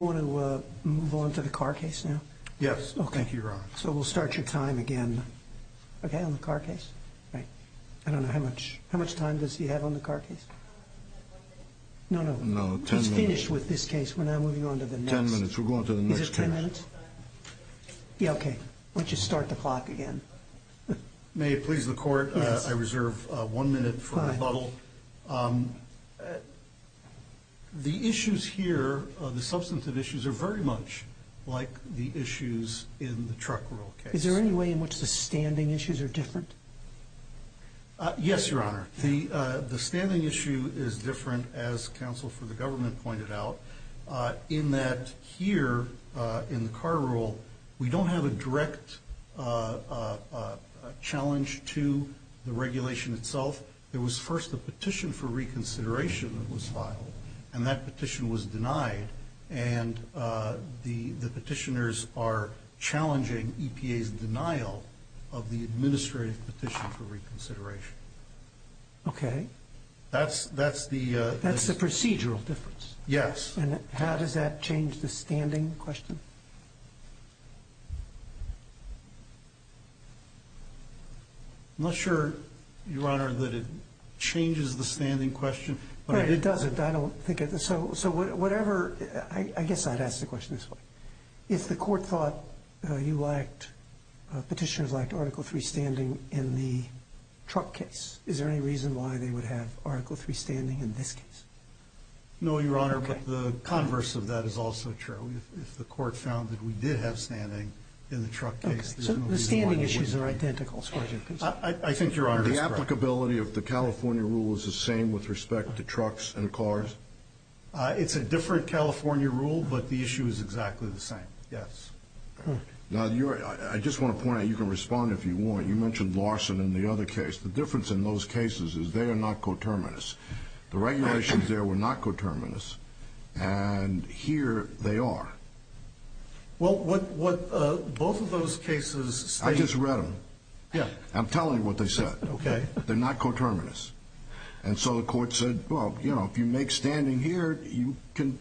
Do you want to move on to the car case now? Yes, thank you, Your Honor. So we'll start your time again. Okay, on the car case. I don't know, how much time does he have on the car case? No, no, he's finished with this case. We're now moving on to the next. Ten minutes, we'll go on to the next case. Is it ten minutes? Yeah, okay. Why don't you start the clock again. May it please the Court, I reserve one minute for rebuttal. So, the issues here, the substantive issues are very much like the issues in the truck rule case. Is there any way in which the standing issues are different? Yes, Your Honor. The standing issue is different, as counsel for the government pointed out, in that here, in the car rule, we don't have a direct challenge to the regulation itself. There was first a petition for reconsideration that was filed, and that petition was denied, and the petitioners are challenging EPA's denial of the administrative petition for reconsideration. Okay. That's the procedural difference. Yes. And how does that change the standing question? I'm not sure, Your Honor, that it changes the standing question. Right, it doesn't. I don't think it does. So, whatever, I guess I'd ask the question this way. If the Court thought you lacked, petitioners lacked Article III standing in the truck case, is there any reason why they would have Article III standing in this case? No, Your Honor, but the converse of that is also true. If the Court found that we did have standing in the truck case. Okay. So the standing issues are identical. I think Your Honor is correct. The applicability of the California rule is the same with respect to trucks and cars? It's a different California rule, but the issue is exactly the same. Yes. Now, I just want to point out, you can respond if you want. You mentioned Larson and the other case. The difference in those cases is they are not coterminous. The regulations there were not coterminous, and here they are. Well, what both of those cases state. I just read them. Yeah. I'm telling you what they said. Okay. They're not coterminous. And so the Court said, well, you know, if you make standing here, you can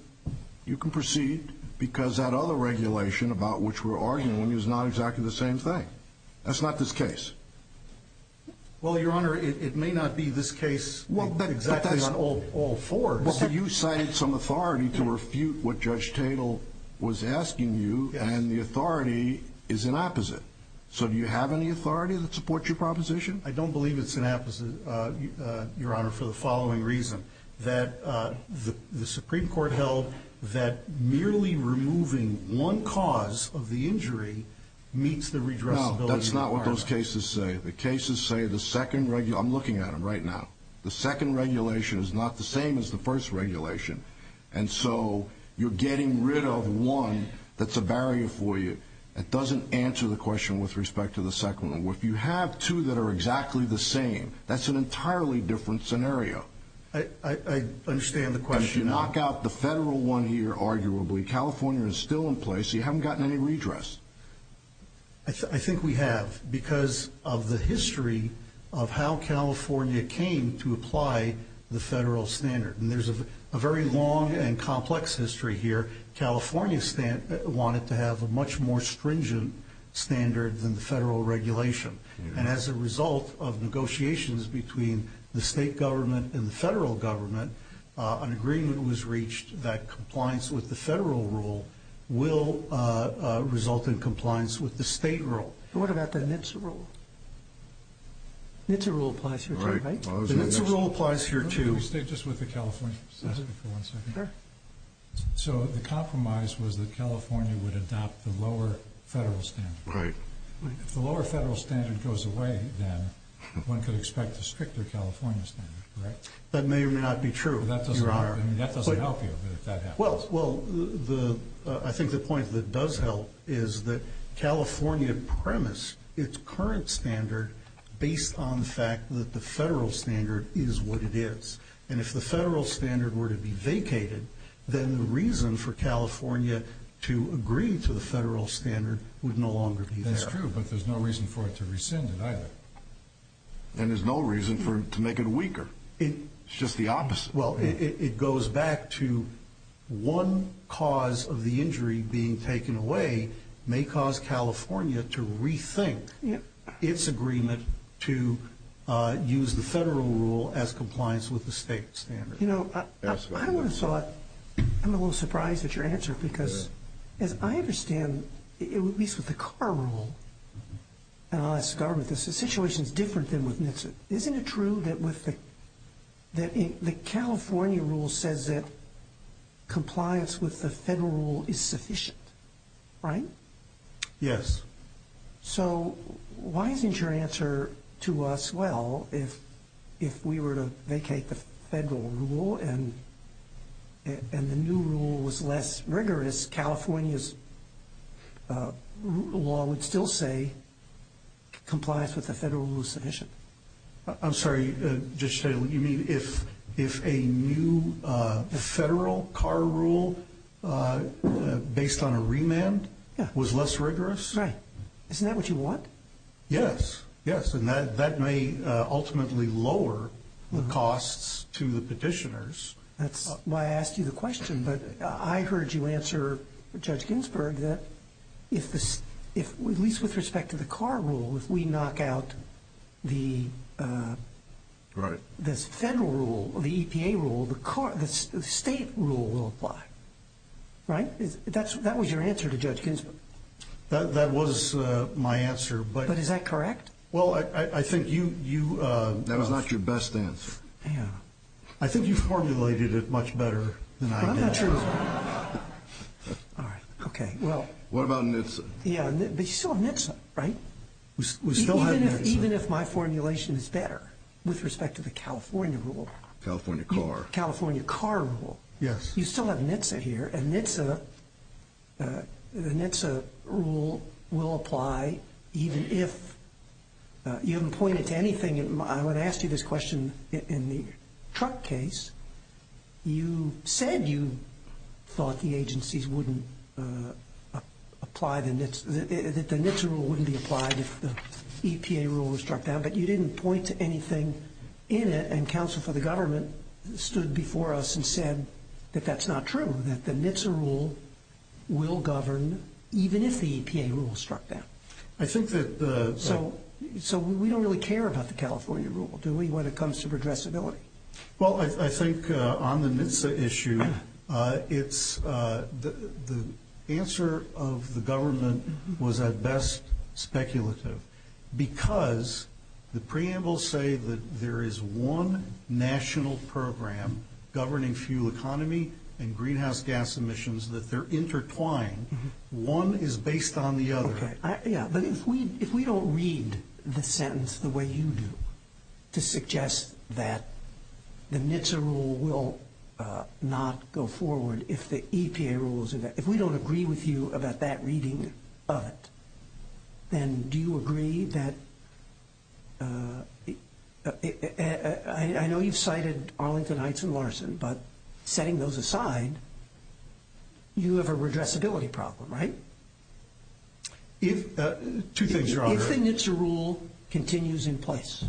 proceed, because that other regulation about which we're arguing is not exactly the same thing. That's not this case. Well, Your Honor, it may not be this case. Exactly on all fours. But you cited some authority to refute what Judge Tatel was asking you, and the authority is an opposite. So do you have any authority that supports your proposition? I don't believe it's an opposite, Your Honor, for the following reason, that the Supreme Court held that merely removing one cause of the injury meets the redressability requirement. No, that's not what those cases say. The cases say the second regulation. I'm looking at them right now. The second regulation is not the same as the first regulation, and so you're getting rid of one that's a barrier for you. It doesn't answer the question with respect to the second one. If you have two that are exactly the same, that's an entirely different scenario. I understand the question. If you knock out the federal one here, arguably, California is still in place, so you haven't gotten any redress. I think we have because of the history of how California came to apply the federal standard. And there's a very long and complex history here. California wanted to have a much more stringent standard than the federal regulation. And as a result of negotiations between the state government and the federal government, an agreement was reached that compliance with the federal rule will result in compliance with the state rule. What about the NHTSA rule? NHTSA rule applies here too, right? The NHTSA rule applies here too. Can we stay just with the California statute for one second? Sure. So the compromise was that California would adopt the lower federal standard. Right. If the lower federal standard goes away, then one could expect a stricter California standard, right? That may or may not be true. That doesn't help you. Well, I think the point that does help is that California premised its current standard based on the fact that the federal standard is what it is. And if the federal standard were to be vacated, then the reason for California to agree to the federal standard would no longer be there. That's true, but there's no reason for it to rescind it either. And there's no reason to make it weaker. It's just the opposite. Well, it goes back to one cause of the injury being taken away may cause California to rethink its agreement to use the federal rule as compliance with the state standard. You know, I would have thought, I'm a little surprised at your answer, because as I understand, at least with the car rule, and I'll ask the government, this situation is different than with NHTSA. Isn't it true that the California rule says that compliance with the federal rule is sufficient, right? Yes. So why isn't your answer to us, well, if we were to vacate the federal rule and the new rule was less rigorous, California's law would still say compliance with the federal rule is sufficient? I'm sorry, Judge Taylor. You mean if a new federal car rule based on a remand was less rigorous? Right. Isn't that what you want? Yes, yes. And that may ultimately lower the costs to the petitioners. That's why I asked you the question, but I heard you answer, Judge Ginsburg, that at least with respect to the car rule, if we knock out the federal rule, the EPA rule, the state rule will apply, right? That was your answer to Judge Ginsburg. That was my answer. But is that correct? Well, I think you – That was not your best answer. Hang on. I think you formulated it much better than I did. Well, I'm not sure it was better. All right. Okay, well. What about NHTSA? Yeah, but you still have NHTSA, right? We still have NHTSA. Even if my formulation is better with respect to the California rule. California car. California car rule. Yes. You still have NHTSA here, and NHTSA, the NHTSA rule will apply even if – You haven't pointed to anything. I would ask you this question in the truck case. You said you thought the agencies wouldn't apply the NHTSA – that the NHTSA rule wouldn't be applied if the EPA rule was struck down, but you didn't point to anything in it, and counsel for the government stood before us and said that that's not true, that the NHTSA rule will govern even if the EPA rule is struck down. I think that the – So we don't really care about the California rule, do we, when it comes to addressability? Well, I think on the NHTSA issue, the answer of the government was at best speculative because the preambles say that there is one national program governing fuel economy and greenhouse gas emissions, that they're intertwined. One is based on the other. Okay. Yeah, but if we don't read the sentence the way you do to suggest that the NHTSA rule will not go forward if the EPA rule is – if we don't agree with you about that reading of it, then do you agree that – I know you've cited Arlington Heights and Larson, but setting those aside, you have a redressability problem, right? Two things, Your Honor. If the NHTSA rule continues in place,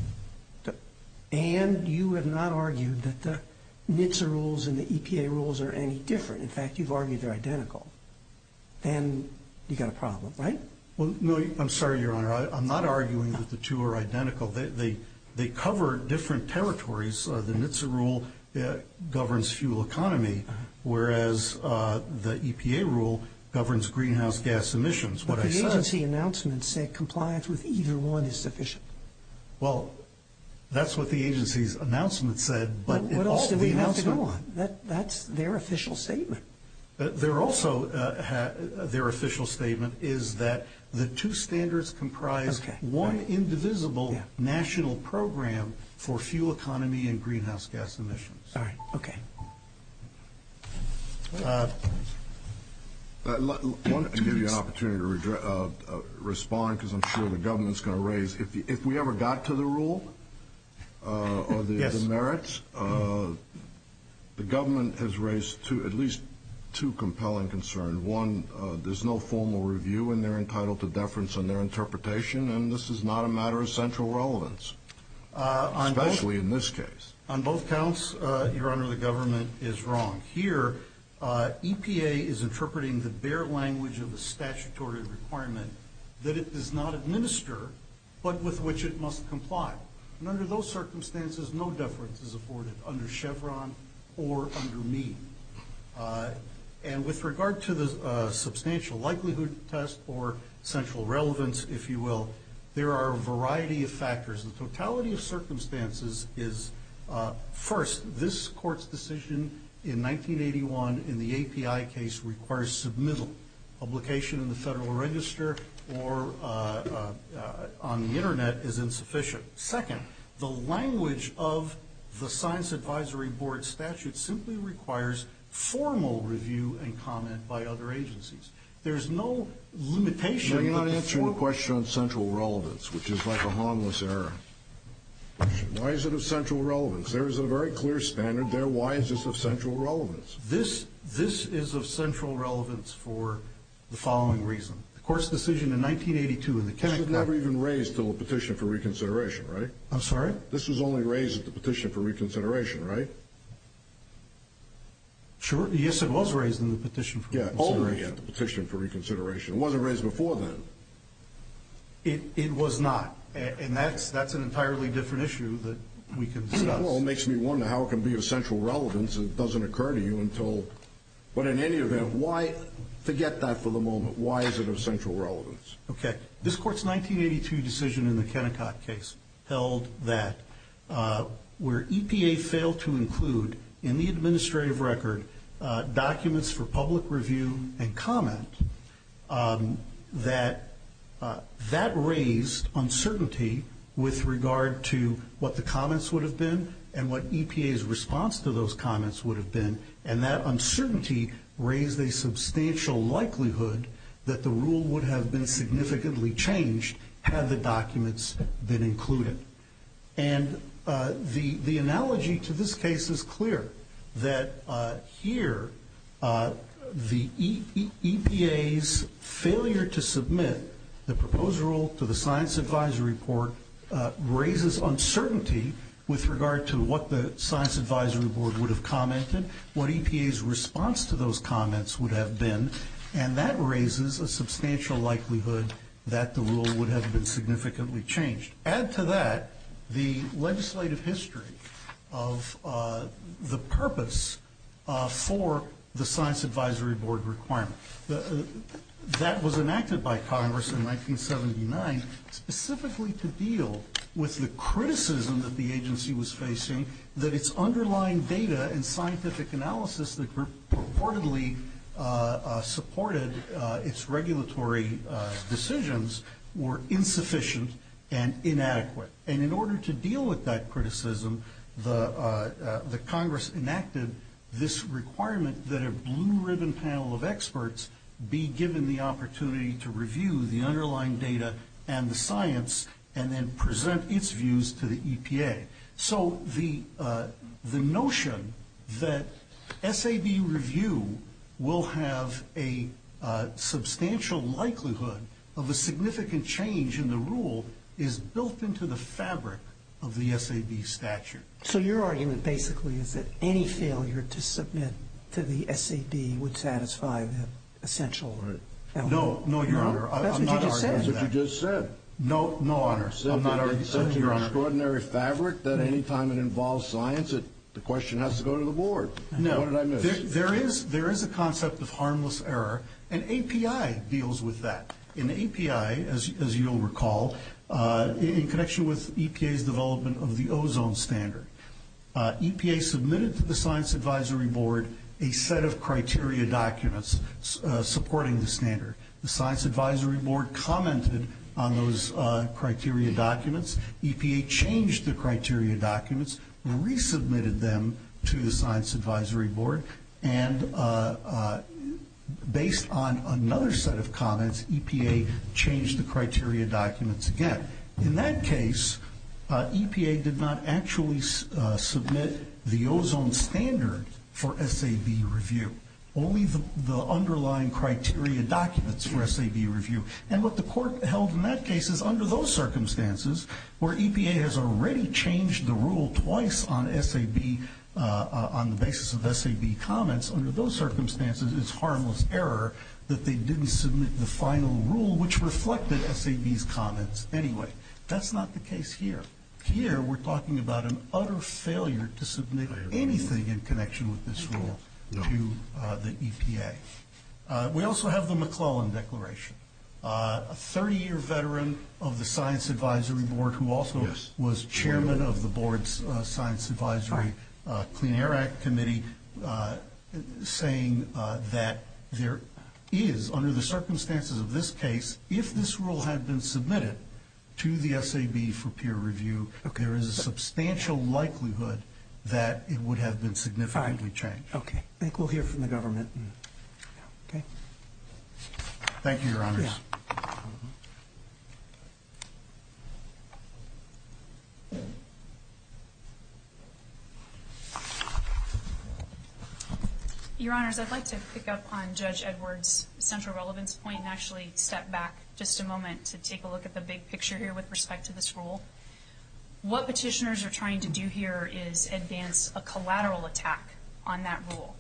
and you have not argued that the NHTSA rules and the EPA rules are any different – in fact, you've argued they're identical – then you've got a problem, right? Well, no, I'm sorry, Your Honor. I'm not arguing that the two are identical. They cover different territories. The NHTSA rule governs fuel economy, whereas the EPA rule governs greenhouse gas emissions. What I said – But the agency announcements say compliance with either one is sufficient. Well, that's what the agency's announcement said, but it also – But what else do they have to go on? That's their official statement. Their official statement is that the two standards comprise one indivisible national program for fuel economy and greenhouse gas emissions. All right, okay. I want to give you an opportunity to respond because I'm sure the government's going to raise – if we ever got to the rule or the merits, the government has raised at least two compelling concerns. One, there's no formal review, and they're entitled to deference on their interpretation, and this is not a matter of central relevance, especially in this case. On both counts, Your Honor, the government is wrong. Here, EPA is interpreting the bare language of the statutory requirement that it does not administer, but with which it must comply. And under those circumstances, no deference is afforded under Chevron or under me. And with regard to the substantial likelihood test or central relevance, if you will, there are a variety of factors. The totality of circumstances is, first, this Court's decision in 1981 in the API case requires submittal. Publication in the Federal Register or on the Internet is insufficient. Second, the language of the Science Advisory Board statute simply requires formal review and comment by other agencies. There's no limitation. You're not answering the question on central relevance, which is like a harmless error. Why is it of central relevance? There is a very clear standard there. Why is this of central relevance? This is of central relevance for the following reason. The Court's decision in 1982 in the Kennecott – This was never even raised until the Petition for Reconsideration, right? I'm sorry? This was only raised at the Petition for Reconsideration, right? Sure. Yes, it was raised in the Petition for Reconsideration. Yeah, only at the Petition for Reconsideration. It wasn't raised before then. It was not. And that's an entirely different issue that we can discuss. Well, it makes me wonder how it can be of central relevance and it doesn't occur to you until – But in any event, why – forget that for the moment. Why is it of central relevance? Okay. This Court's 1982 decision in the Kennecott case held that where EPA failed to include, in the administrative record, documents for public review and comment, that that raised uncertainty with regard to what the comments would have been and what EPA's response to those comments would have been, and that uncertainty raised a substantial likelihood that the rule would have been significantly changed had the documents been included. And the analogy to this case is clear, that here the EPA's failure to submit the proposed rule to the Science Advisory Board raises uncertainty with regard to what the Science Advisory Board would have commented, what EPA's response to those comments would have been, and that raises a substantial likelihood that the rule would have been significantly changed. Add to that the legislative history of the purpose for the Science Advisory Board requirement. That was enacted by Congress in 1979 specifically to deal with the criticism that the agency was facing that its underlying data and scientific analysis that purportedly supported its regulatory decisions were insufficient and inadequate. And in order to deal with that criticism, Congress enacted this requirement that a blue-ribbon panel of experts be given the opportunity to review the underlying data and the science and then present its views to the EPA. So the notion that SAB review will have a substantial likelihood of a significant change in the rule is built into the fabric of the SAB statute. So your argument basically is that any failure to submit to the SAB would satisfy the essential element. No, Your Honor, I'm not arguing that. That's what you just said. No, no, Your Honor. I'm not arguing that, Your Honor. It's such an extraordinary fabric that any time it involves science, the question has to go to the board. No. What did I miss? There is a concept of harmless error, and API deals with that. In API, as you'll recall, in connection with EPA's development of the ozone standard, EPA submitted to the Science Advisory Board a set of criteria documents supporting the standard. The Science Advisory Board commented on those criteria documents. EPA changed the criteria documents, resubmitted them to the Science Advisory Board, and based on another set of comments, EPA changed the criteria documents again. In that case, EPA did not actually submit the ozone standard for SAB review, only the underlying criteria documents for SAB review. And what the court held in that case is under those circumstances, where EPA has already changed the rule twice on the basis of SAB comments, under those circumstances it's harmless error that they didn't submit the final rule, which reflected SAB's comments anyway. That's not the case here. Here we're talking about an utter failure to submit anything in connection with this rule to the EPA. We also have the McClellan Declaration. A 30-year veteran of the Science Advisory Board, who also was chairman of the board's Science Advisory Clean Air Act Committee, saying that there is, under the circumstances of this case, if this rule had been submitted to the SAB for peer review, there is a substantial likelihood that it would have been significantly changed. I think we'll hear from the government. Okay. Thank you, Your Honors. Your Honors, I'd like to pick up on Judge Edwards' central relevance point and actually step back just a moment to take a look at the big picture here with respect to this rule. What petitioners are trying to do here is advance a collateral attack on that rule.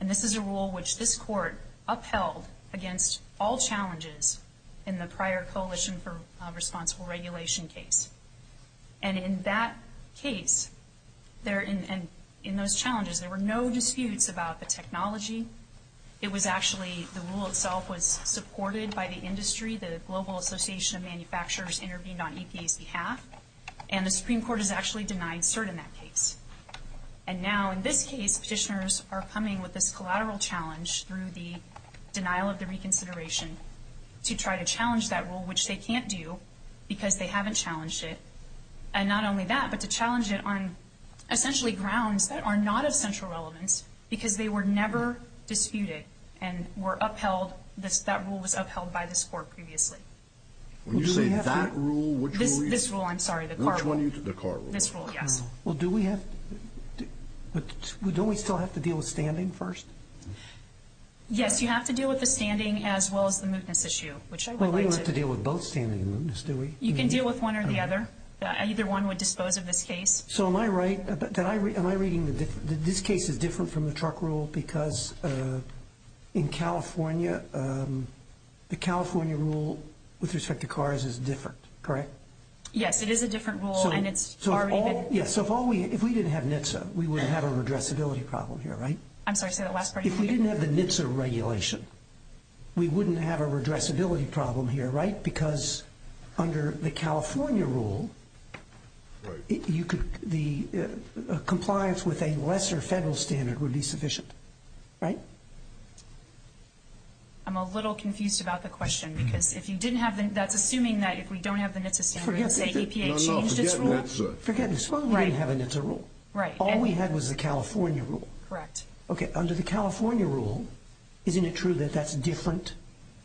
And this is a rule which this Court upheld against all challenges in the prior Coalition for Responsible Regulation case. And in that case, and in those challenges, there were no disputes about the technology. It was actually, the rule itself was supported by the industry. The Global Association of Manufacturers intervened on EPA's behalf. And the Supreme Court has actually denied cert in that case. And now, in this case, petitioners are coming with this collateral challenge through the denial of the reconsideration to try to challenge that rule, which they can't do because they haven't challenged it. And not only that, but to challenge it on, essentially, grounds that are not of central relevance because they were never disputed and were upheld. That rule was upheld by this Court previously. When you say that rule, which rule are you talking about? This rule, I'm sorry. Which one are you talking about? The Carr rule. This rule, yes. Well, do we have to, but don't we still have to deal with standing first? Yes, you have to deal with the standing as well as the mootness issue, which I would like to. Well, we don't have to deal with both standing and mootness, do we? You can deal with one or the other. Either one would dispose of this case. So am I right, am I reading, this case is different from the truck rule because in California, the California rule with respect to cars is different, correct? Yes, it is a different rule. Yes, so if we didn't have NHTSA, we wouldn't have a redressability problem here, right? I'm sorry, say that last part again. If we didn't have the NHTSA regulation, we wouldn't have a redressability problem here, right? Because under the California rule, the compliance with a lesser federal standard would be sufficient, right? I'm a little confused about the question because if you didn't have the, that's assuming that if we don't have the NHTSA standard, the EPA changed its rule. Forget NHTSA, you didn't have a NHTSA rule. All we had was the California rule. Correct. Okay, under the California rule, isn't it true that that's different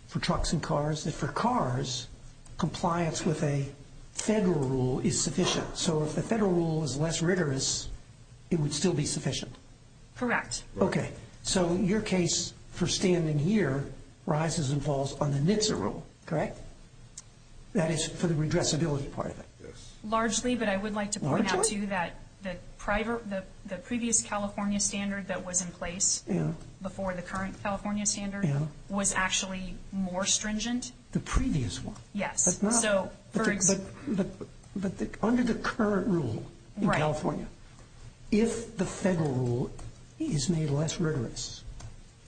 for trucks and cars, that for cars, compliance with a federal rule is sufficient? So if the federal rule is less rigorous, it would still be sufficient? Correct. Okay, so your case for standing here rises and falls on the NHTSA rule, correct? That is for the redressability part of it. Yes. Largely, but I would like to point out, too, that the previous California standard that was in place before the current California standard was actually more stringent. The previous one? Yes. But under the current rule in California, if the federal rule is made less rigorous,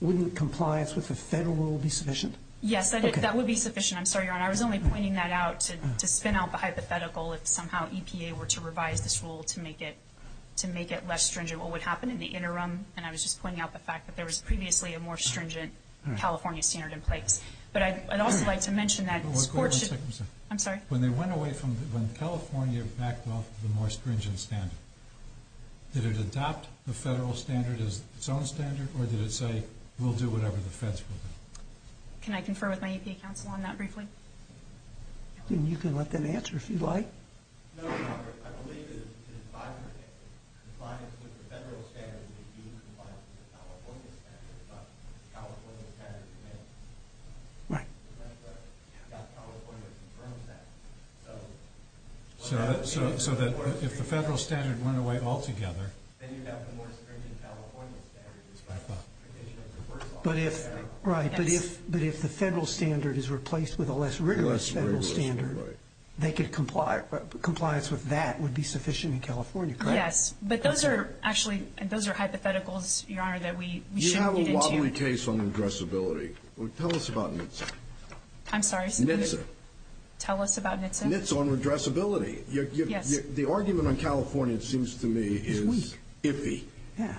wouldn't compliance with the federal rule be sufficient? Yes, that would be sufficient. I'm sorry, Your Honor, I was only pointing that out to spin out the hypothetical if somehow EPA were to revise this rule to make it less stringent. What would happen in the interim? And I was just pointing out the fact that there was previously a more stringent California standard in place. But I'd also like to mention that this court should— Hold on one second, sir. I'm sorry? When they went away from—when California backed off the more stringent standard, did it adopt the federal standard as its own standard, or did it say, we'll do whatever the feds will do? Can I confer with my EPA counsel on that briefly? You can let them answer if you'd like. No, Your Honor. I believe that the compliance with the federal standard would be due to compliance with the California standard, not the California standard itself. Right. California confirms that. So that if the federal standard went away altogether— Then you'd have the more stringent California standard But if—right. But if the federal standard is replaced with a less rigorous federal standard, they could comply—compliance with that would be sufficient in California, correct? Yes. But those are actually—those are hypotheticals, Your Honor, that we shouldn't get into. You have a wobbly case on redressability. Tell us about NHTSA. I'm sorry? NHTSA. Tell us about NHTSA. NHTSA on redressability. Yes. The argument on California, it seems to me, is iffy. Yeah.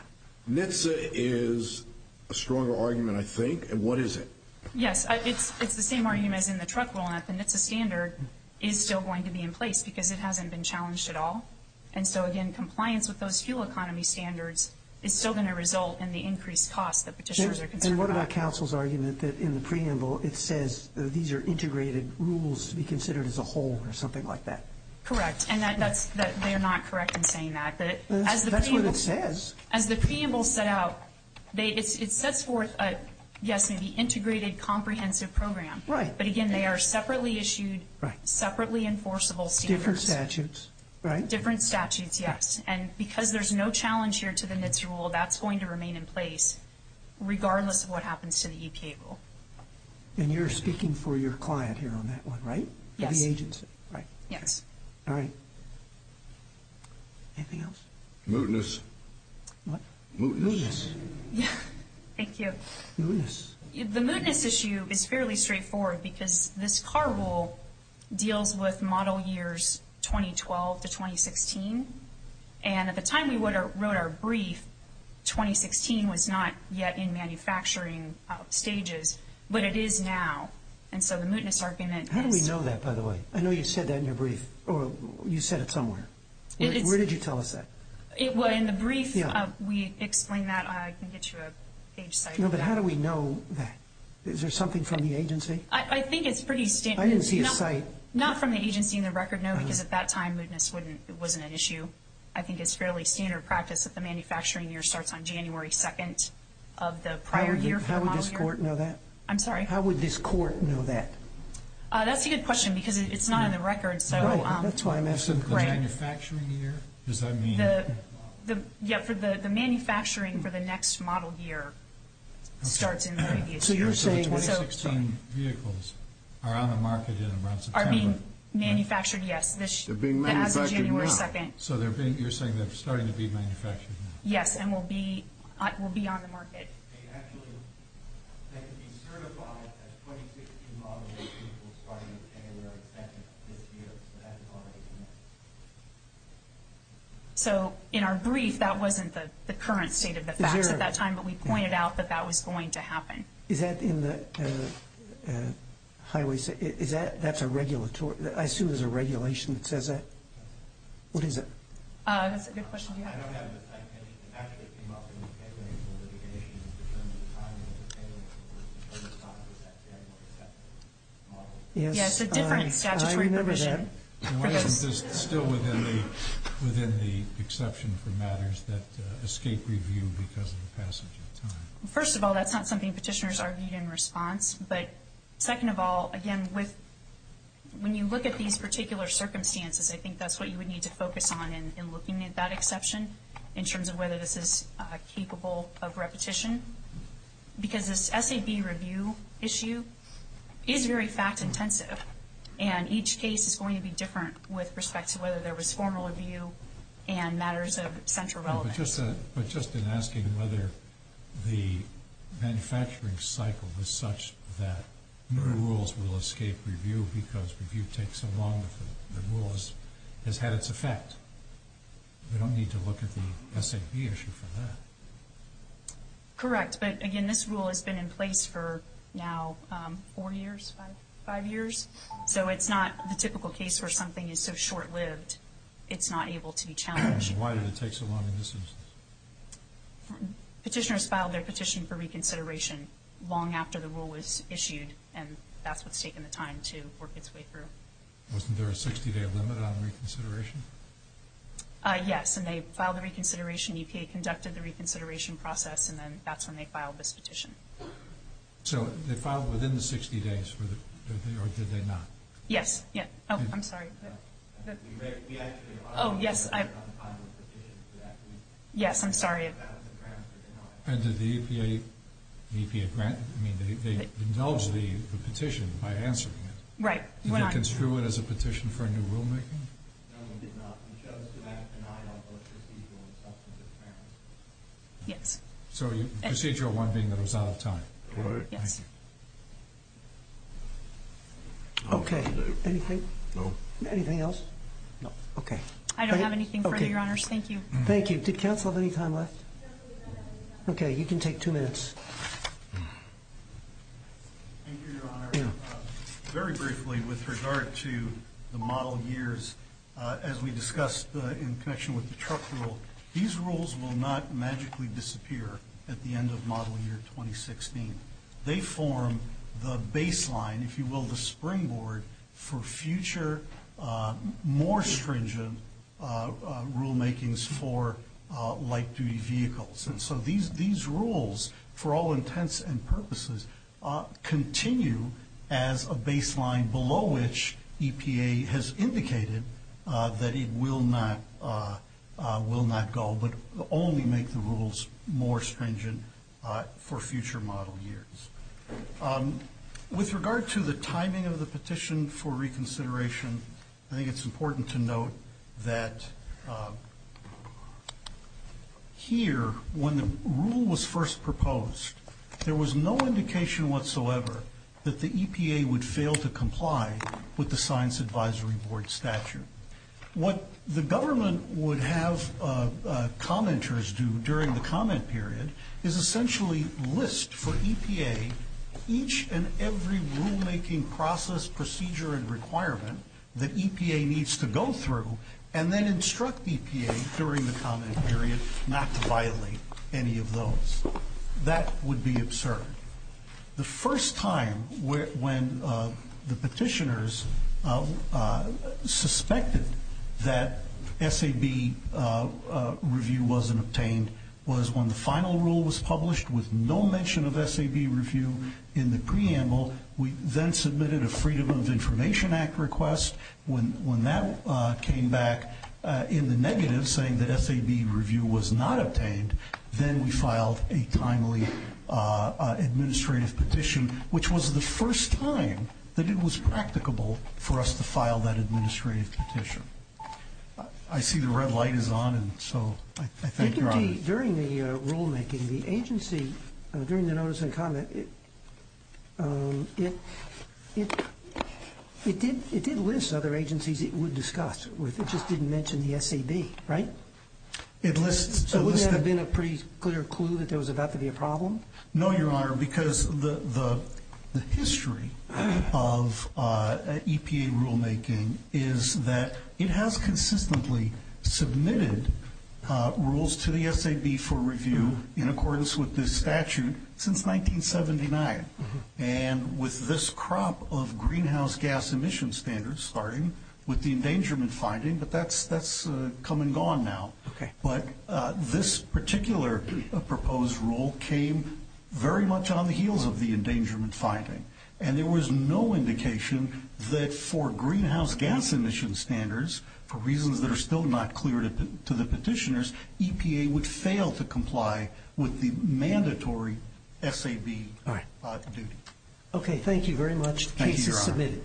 NHTSA is a stronger argument, I think. And what is it? Yes. It's the same argument as in the truck rule, and that the NHTSA standard is still going to be in place because it hasn't been challenged at all. And so, again, compliance with those fuel economy standards is still going to result in the increased costs that petitioners are concerned about. And what about counsel's argument that in the preamble, it says these are integrated rules to be considered as a whole or something like that? Correct. And that's—they're not correct in saying that. But as the preamble— That's what it says. As the preamble set out, it sets forth, yes, an integrated comprehensive program. Right. But, again, they are separately issued, separately enforceable standards. Different statutes, right? Different statutes, yes. And because there's no challenge here to the NHTSA rule, that's going to remain in place regardless of what happens to the EPA rule. And you're speaking for your client here on that one, right? Yes. The agency, right? Yes. All right. Anything else? Mootness. Mootness. Mootness. Thank you. Mootness. The mootness issue is fairly straightforward because this CAR rule deals with model years 2012 to 2016. And at the time we wrote our brief, 2016 was not yet in manufacturing stages, but it is now. And so the mootness argument is— How do we know that, by the way? I know you said that in your brief, or you said it somewhere. Where did you tell us that? Well, in the brief, we explained that. I can get you a page cited. No, but how do we know that? Is there something from the agency? I think it's pretty standard. I didn't see a cite. Not from the agency in the record, no, because at that time mootness wasn't an issue. I think it's fairly standard practice that the manufacturing year starts on January 2nd of the prior year for the model year. How would this court know that? I'm sorry? How would this court know that? That's a good question because it's not in the record. Oh, that's why I'm asking. The manufacturing year? Does that mean— Yeah, the manufacturing for the next model year starts in the previous year. So you're saying the 2016 vehicles are on the market in around September? Are being manufactured, yes. They're being manufactured now? As of January 2nd. So you're saying they're starting to be manufactured now? Yes, and will be on the market. They actually—they can be certified as 2016 model vehicles starting in January 2nd of this year, so that's already in there. So in our brief, that wasn't the current state of the facts at that time, but we pointed out that that was going to happen. Is that in the highway—is that—that's a regulatory—I assume there's a regulation that says that? What is it? That's a good question. I don't have the time. Actually, it came up in the February 4th litigation in terms of timing, depending on who was responsible for that January 2nd model. Yeah, it's a different statutory provision. I remember that. What is still within the exception for matters that escape review because of the passage of time? First of all, that's not something petitioners argued in response, but second of all, again, when you look at these particular circumstances, I think that's what you would need to focus on in looking at that exception in terms of whether this is capable of repetition because this SAB review issue is very fact-intensive, and each case is going to be different with respect to whether there was formal review and matters of central relevance. But just in asking whether the manufacturing cycle is such that new rules will escape review because review takes so long if the rule has had its effect, we don't need to look at the SAB issue for that. Correct, but again, this rule has been in place for now four years, five years, so it's not the typical case where something is so short-lived it's not able to be challenged. Why did it take so long in this instance? Petitioners filed their petition for reconsideration long after the rule was issued, and that's what's taken the time to work its way through. Wasn't there a 60-day limit on reconsideration? Yes, and they filed the reconsideration. EPA conducted the reconsideration process, and then that's when they filed this petition. So they filed within the 60 days, or did they not? Yes. Oh, I'm sorry. Oh, yes. Yes, I'm sorry. And did the EPA grant? I mean, they indulged the petition by answering it. Right. Did they construe it as a petition for a new rulemaking? Yes. So procedural one being that it was out of time. Right. Yes. Okay. Anything? No. Anything else? No. Okay. I don't have anything further, Your Honors. Thank you. Thank you. Did counsel have any time left? Okay. You can take two minutes. Thank you, Your Honor. Very briefly, with regard to the model years, as we discussed in connection with the truck rule, these rules will not magically disappear at the end of model year 2016. They form the baseline, if you will, the springboard for future more stringent rulemakings for light-duty vehicles. And so these rules, for all intents and purposes, continue as a baseline below which EPA has indicated that it will not go, but only make the rules more stringent for future model years. With regard to the timing of the petition for reconsideration, I think it's important to note that here, when the rule was first proposed, there was no indication whatsoever that the EPA would fail to comply with the Science Advisory Board statute. What the government would have commenters do during the comment period is essentially list for EPA each and every rulemaking process, procedure, and requirement that EPA needs to go through and then instruct EPA during the comment period not to violate any of those. That would be absurd. The first time when the petitioners suspected that SAB review wasn't obtained was when the final rule was published with no mention of SAB review in the preamble. We then submitted a Freedom of Information Act request. When that came back in the negative, saying that SAB review was not obtained, then we filed a timely administrative petition, which was the first time that it was practicable for us to file that administrative petition. I see the red light is on, and so I thank Your Honor. During the rulemaking, the agency, during the notice and comment, it did list other agencies it would discuss. It just didn't mention the SAB, right? So wouldn't that have been a pretty clear clue that there was about to be a problem? No, Your Honor, because the history of EPA rulemaking is that it has consistently submitted rules to the SAB for review in accordance with this statute since 1979, and with this crop of greenhouse gas emission standards, starting with the endangerment finding, but that's come and gone now. But this particular proposed rule came very much on the heels of the endangerment finding, and there was no indication that for greenhouse gas emission standards, for reasons that are still not clear to the petitioners, EPA would fail to comply with the mandatory SAB duty. Okay, thank you very much. The case is submitted.